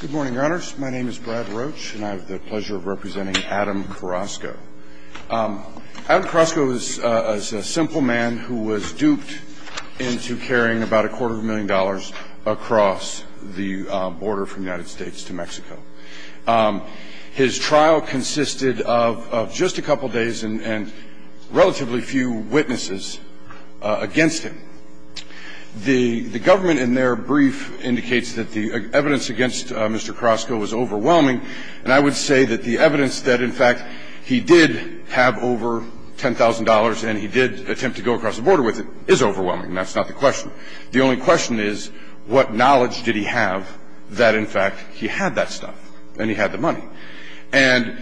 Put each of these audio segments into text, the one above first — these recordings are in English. Good morning, your honors. My name is Brad Roach, and I have the pleasure of representing Adam Carrasco. Adam Carrasco is a simple man who was duped into carrying about a quarter of a million dollars across the border from the United States to Mexico. His trial consisted of just a couple of days and relatively few witnesses against him. The government, in their brief, indicates that the evidence against Mr. Carrasco was overwhelming. And I would say that the evidence that, in fact, he did have over $10,000 and he did attempt to go across the border with it is overwhelming. That's not the question. The only question is what knowledge did he have that, in fact, he had that stuff and he had the money. And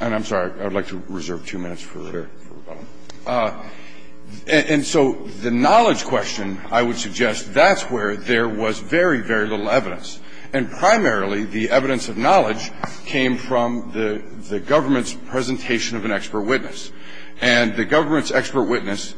I'm sorry. I would like to reserve two minutes for rebuttal. And so the knowledge question, I would suggest, that's where there was very, very little evidence. And primarily, the evidence of knowledge came from the government's presentation of an expert witness. And the government's expert witness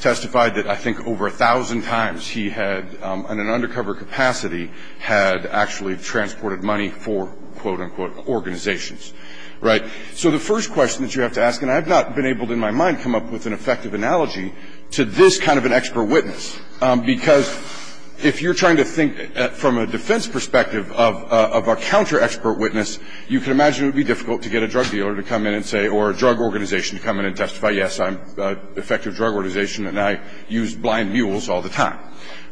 testified that I think over 1,000 times he had, in an undercover capacity, had actually transported money for, quote, unquote, organizations. Right? So the first question that you have to ask, and I have not been able, in my mind, come up with an effective analogy to this kind of an expert witness, because if you're trying to think from a defense perspective of a counter-expert witness, you can imagine it would be difficult to get a drug dealer to come in and say or a drug organization to come in and testify, yes, I'm an effective drug organization and I use blind mules all the time.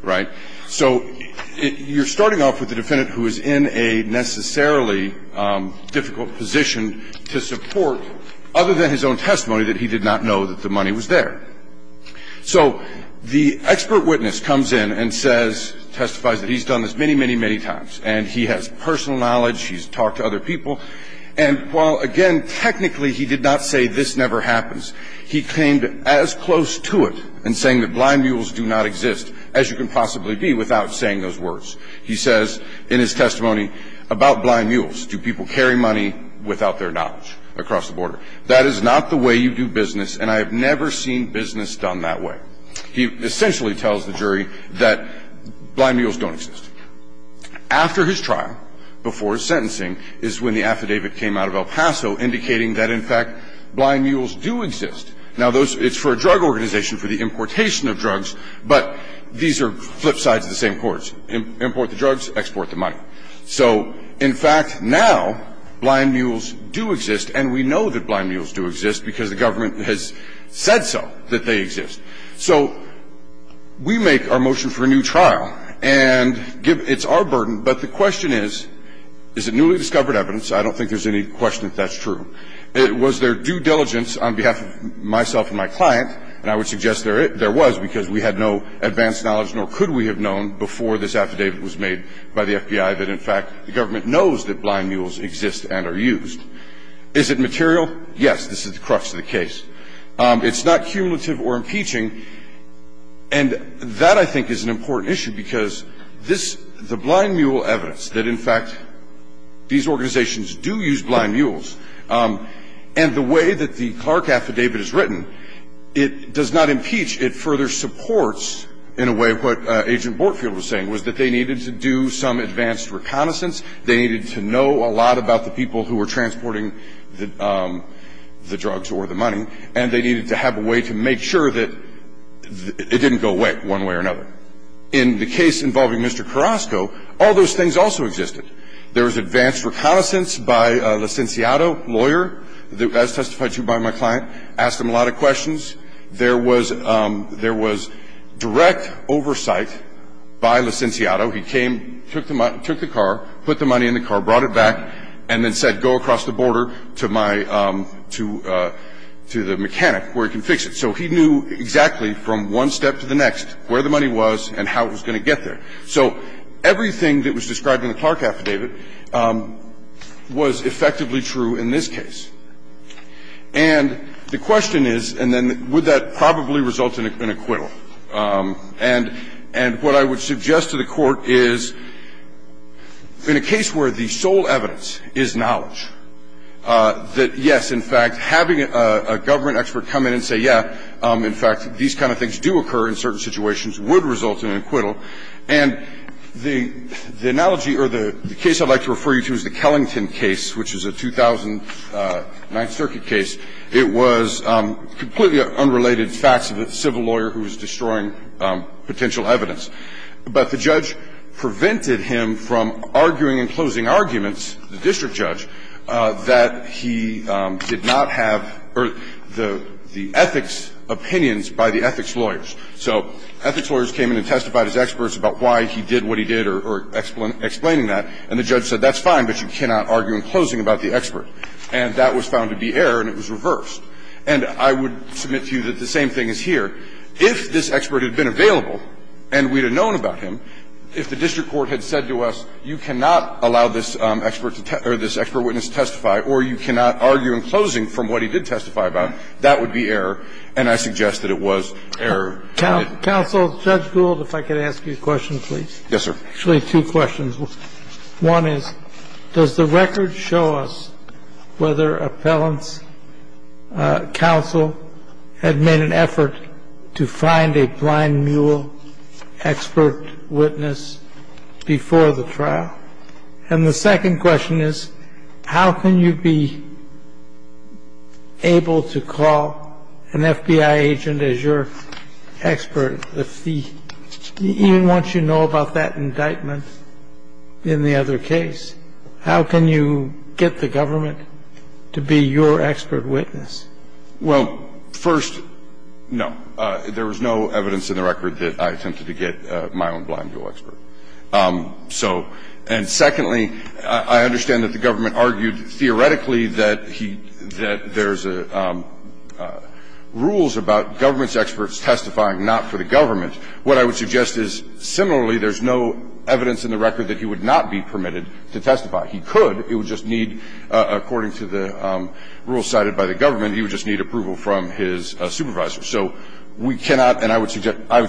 Right? So you're starting off with the defendant who is in a necessarily difficult position to support, other than his own testimony, that he did not know that the money was there. So the expert witness comes in and says, testifies that he's done this many, many, many times. And he has personal knowledge. He's talked to other people. And while, again, technically he did not say this never happens, he came as close to it in saying that blind mules do not exist. And he says this without saying those words. He says in his testimony about blind mules, do people carry money without their knowledge across the border? That is not the way you do business, and I have never seen business done that way. He essentially tells the jury that blind mules don't exist. After his trial, before his sentencing, is when the affidavit came out of El Paso indicating that, in fact, blind mules do exist. Now, it's for a drug organization, for the importation of drugs, but these are flip sides of the same course. Import the drugs, export the money. So, in fact, now blind mules do exist, and we know that blind mules do exist because the government has said so, that they exist. So we make our motion for a new trial, and it's our burden, but the question is, is it newly discovered evidence? I don't think there's any question that that's true. It was their due diligence on behalf of myself and my client, and I would suggest there was, because we had no advanced knowledge nor could we have known before this affidavit was made by the FBI that, in fact, the government knows that blind mules exist and are used. Is it material? Yes. This is the crux of the case. It's not cumulative or impeaching, and that, I think, is an important issue because this is the blind mule evidence that, in fact, these organizations do use blind mules, and the way that the Clark affidavit is written, it does not impeach. It further supports, in a way, what Agent Bortfield was saying, was that they needed to do some advanced reconnaissance. They needed to know a lot about the people who were transporting the drugs or the money, and they needed to have a way to make sure that it didn't go away one way or another. In the case involving Mr. Carrasco, all those things also existed. There was advanced reconnaissance by Licenciado, lawyer, as testified to by my client, asked him a lot of questions. There was direct oversight by Licenciado. He came, took the car, put the money in the car, brought it back, and then said, go across the border to my to the mechanic where he can fix it. So he knew exactly from one step to the next where the money was and how it was going to get there. So everything that was described in the Clark affidavit was effectively true in this case. And the question is, and then would that probably result in an acquittal? And what I would suggest to the Court is, in a case where the sole evidence is knowledge, that, yes, in fact, having a government expert come in and say, yeah, in fact, these kind of things do occur in certain situations would result in an acquittal. And the analogy or the case I'd like to refer you to is the Kellington case, which is a 2009 circuit case. It was completely unrelated facts of a civil lawyer who was destroying potential evidence, but the judge prevented him from arguing in closing arguments, the district judge, that he did not have the ethics opinions by the ethics lawyers. So ethics lawyers came in and testified as experts about why he did what he did or explaining that, and the judge said, that's fine, but you cannot argue in closing about the expert. And that was found to be error and it was reversed. And I would submit to you that the same thing is here. If this expert had been available and we'd have known about him, if the district court had said to us, you cannot allow this expert witness to testify or you cannot argue in closing from what he did testify about, that would be error, and I suggest that it was error. Counsel, Judge Gould, if I could ask you a question, please. Yes, sir. Actually, two questions. One is, does the record show us whether appellants' counsel had made an effort to find a blind mule expert witness before the trial? And the second question is, how can you be able to call an FBI agent as your expert if the ‑‑ even once you know about that indictment in the other case, how can you get the government to be your expert witness? Well, first, no. There was no evidence in the record that I attempted to get my own blind mule expert. So ‑‑ and secondly, I understand that the government argued theoretically that he ‑‑ that there's rules about government's experts testifying not for the government. What I would suggest is, similarly, there's no evidence in the record that he would not be permitted to testify. He could. It would just need ‑‑ according to the rules cited by the government, he would just need approval from his supervisor. So we cannot ‑‑ and I would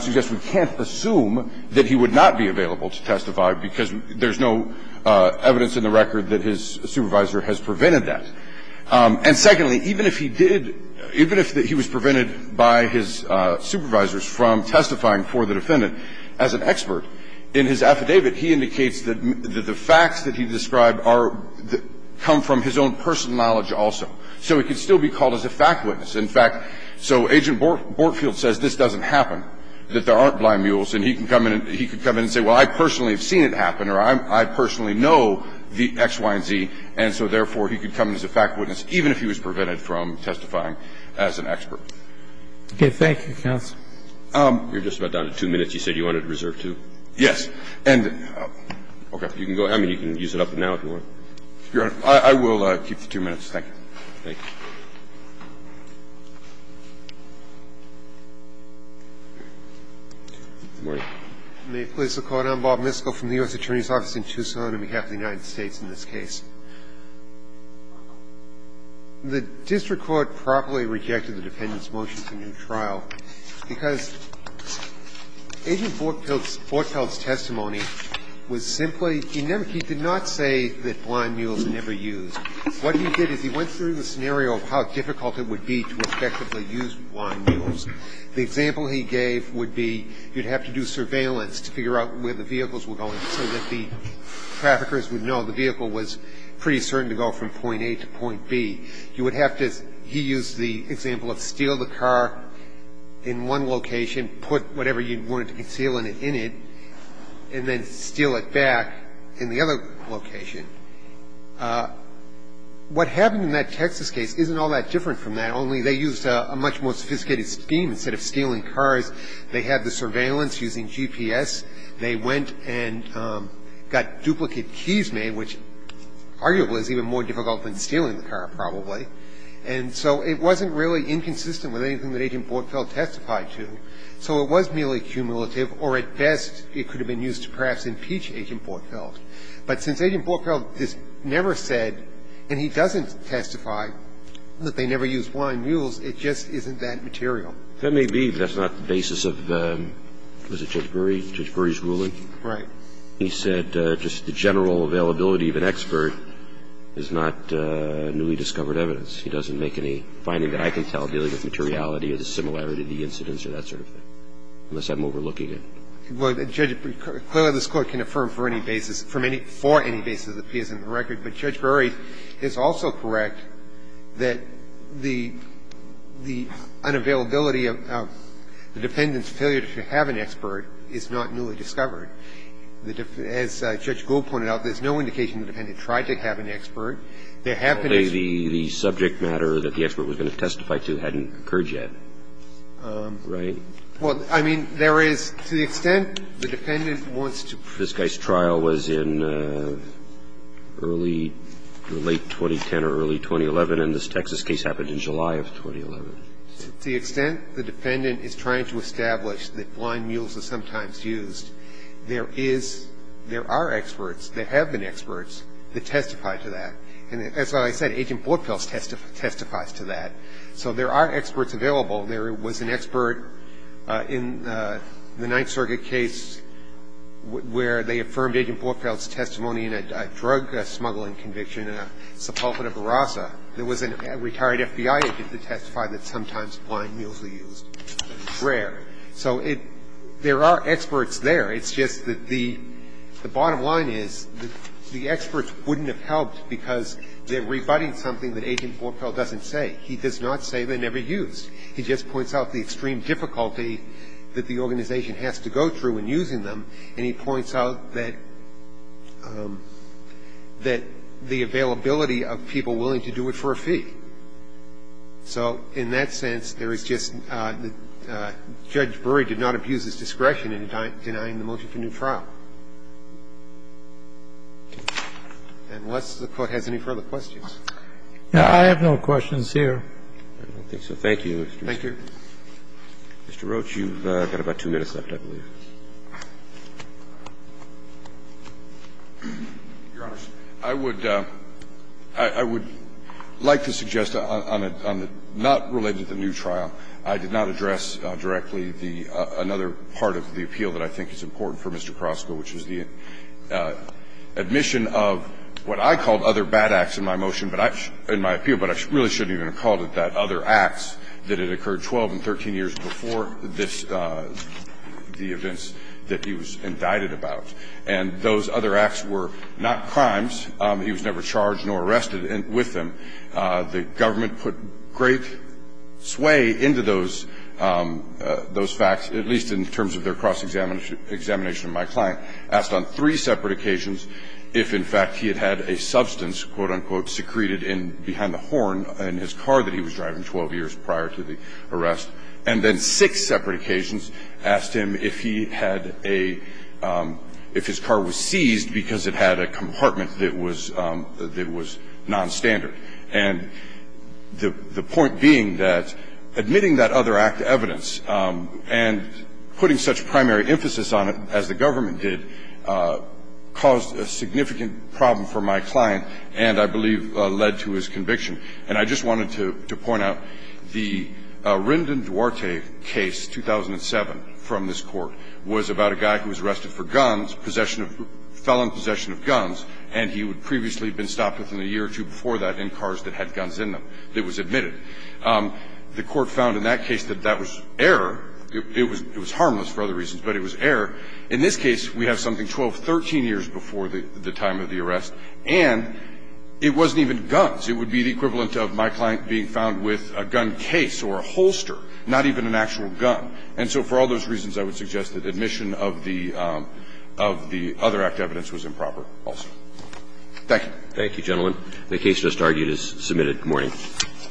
suggest we can't assume that he would not be available to testify because there's no evidence in the record that his supervisor has prevented that. And secondly, even if he did ‑‑ even if he was prevented by his supervisors from testifying for the defendant as an expert, in his affidavit he indicates that the facts that he described are ‑‑ come from his own personal knowledge also. So he could still be called as a fact witness. In fact, so Agent Bortfield says this doesn't happen, that there aren't blind mules, and he can come in and say, well, I personally have seen it happen or I personally know the X, Y, and Z, and so therefore he could come in as a fact witness even if he was prevented from testifying as an expert. Okay. Thank you, counsel. You're just about down to two minutes. You said you wanted to reserve two? Yes. Okay. You can go. I mean, you can use it up now if you want. Your Honor, I will keep the two minutes. Thank you. Thank you. Good morning. May it please the Court. I'm Bob Misko from the U.S. Attorney's Office in Tucson on behalf of the United States in this case. The district court properly rejected the defendant's motion for new trial because of the blind mules. The defendant's testimony was simply, he never, he did not say that blind mules are never used. What he did is he went through the scenario of how difficult it would be to effectively use blind mules. The example he gave would be you'd have to do surveillance to figure out where the vehicles were going so that the traffickers would know the vehicle was pretty certain to go from point A to point B. You would have to, he used the example of steal the car in one location, put whatever you wanted to conceal in it, and then steal it back in the other location. What happened in that Texas case isn't all that different from that, only they used a much more sophisticated scheme. Instead of stealing cars, they had the surveillance using GPS. They went and got duplicate keys made, which arguably is even more difficult than stealing the car probably. And so it wasn't really inconsistent with anything that Agent Bortfeld testified to. So it was merely cumulative, or at best, it could have been used to perhaps impeach Agent Bortfeld. But since Agent Bortfeld has never said, and he doesn't testify that they never used blind mules, it just isn't that material. That may be, but that's not the basis of, what is it, Judge Brewery? Judge Brewery's ruling? Right. He said just the general availability of an expert is not newly discovered evidence. He doesn't make any finding that I can tell dealing with materiality or the similarity of the incidents or that sort of thing, unless I'm overlooking it. Well, Judge, clearly this Court can affirm for any basis, for any basis that appears in the record. But Judge Brewery is also correct that the unavailability of the dependent's to have an expert is not newly discovered. As Judge Gould pointed out, there's no indication the dependent tried to have an expert. There have been experts. But the subject matter that the expert was going to testify to hadn't occurred yet, right? Well, I mean, there is, to the extent the dependent wants to. This guy's trial was in early, late 2010 or early 2011, and this Texas case happened in July of 2011. To the extent the defendant is trying to establish that blind mules are sometimes used, there is, there are experts. There have been experts that testify to that. And as I said, Agent Bortfeldt testifies to that. So there are experts available. There was an expert in the Ninth Circuit case where they affirmed Agent Bortfeldt's testimony in a drug smuggling conviction in a Sepulveda Barraza. There was a retired FBI agent that testified that sometimes blind mules are used, but it's rare. So there are experts there. It's just that the bottom line is the experts wouldn't have helped because they're rebutting something that Agent Bortfeldt doesn't say. He does not say they're never used. He just points out the extreme difficulty that the organization has to go through in using them, and he points out that the availability of people willing to do it for a fee. So in that sense, there is just the Judge Brewery did not abuse his discretion in denying the motion for new trial. Unless the Court has any further questions. I have no questions here. Okay. So thank you, Mr. Roach. Thank you. Mr. Roach, you've got about two minutes left, I believe. Your Honor, I would like to suggest on the not related to the new trial, I did not address directly another part of the appeal that I think is important for Mr. Krosko, which is the admission of what I called other bad acts in my motion, in my appeal, but I really shouldn't even have called it that, other acts that had occurred 12 and 13 years before this, the events that he was indicted about. And those other acts were not crimes. He was never charged nor arrested with them. The government put great sway into those facts, at least in terms of their cross-examination of my client, asked on three separate occasions if, in fact, he had had a substance that was, quote, unquote, secreted behind the horn in his car that he was driving 12 years prior to the arrest, and then six separate occasions asked him if he had a – if his car was seized because it had a compartment that was nonstandard. And the point being that admitting that other act of evidence and putting such primary emphasis on it, as the government did, caused a significant problem for my client and, I believe, led to his conviction. And I just wanted to point out the Rinden Duarte case, 2007, from this Court, was about a guy who was arrested for guns, possession of – felon possession of guns, and he had previously been stopped within a year or two before that in cars that had guns in them that was admitted. The Court found in that case that that was error. It was harmless for other reasons, but it was error. In this case, we have something 12, 13 years before the time of the arrest. And it wasn't even guns. It would be the equivalent of my client being found with a gun case or a holster, not even an actual gun. And so for all those reasons, I would suggest that admission of the – of the other act of evidence was improper also. Thank you, gentlemen. The case just argued is submitted. Good morning.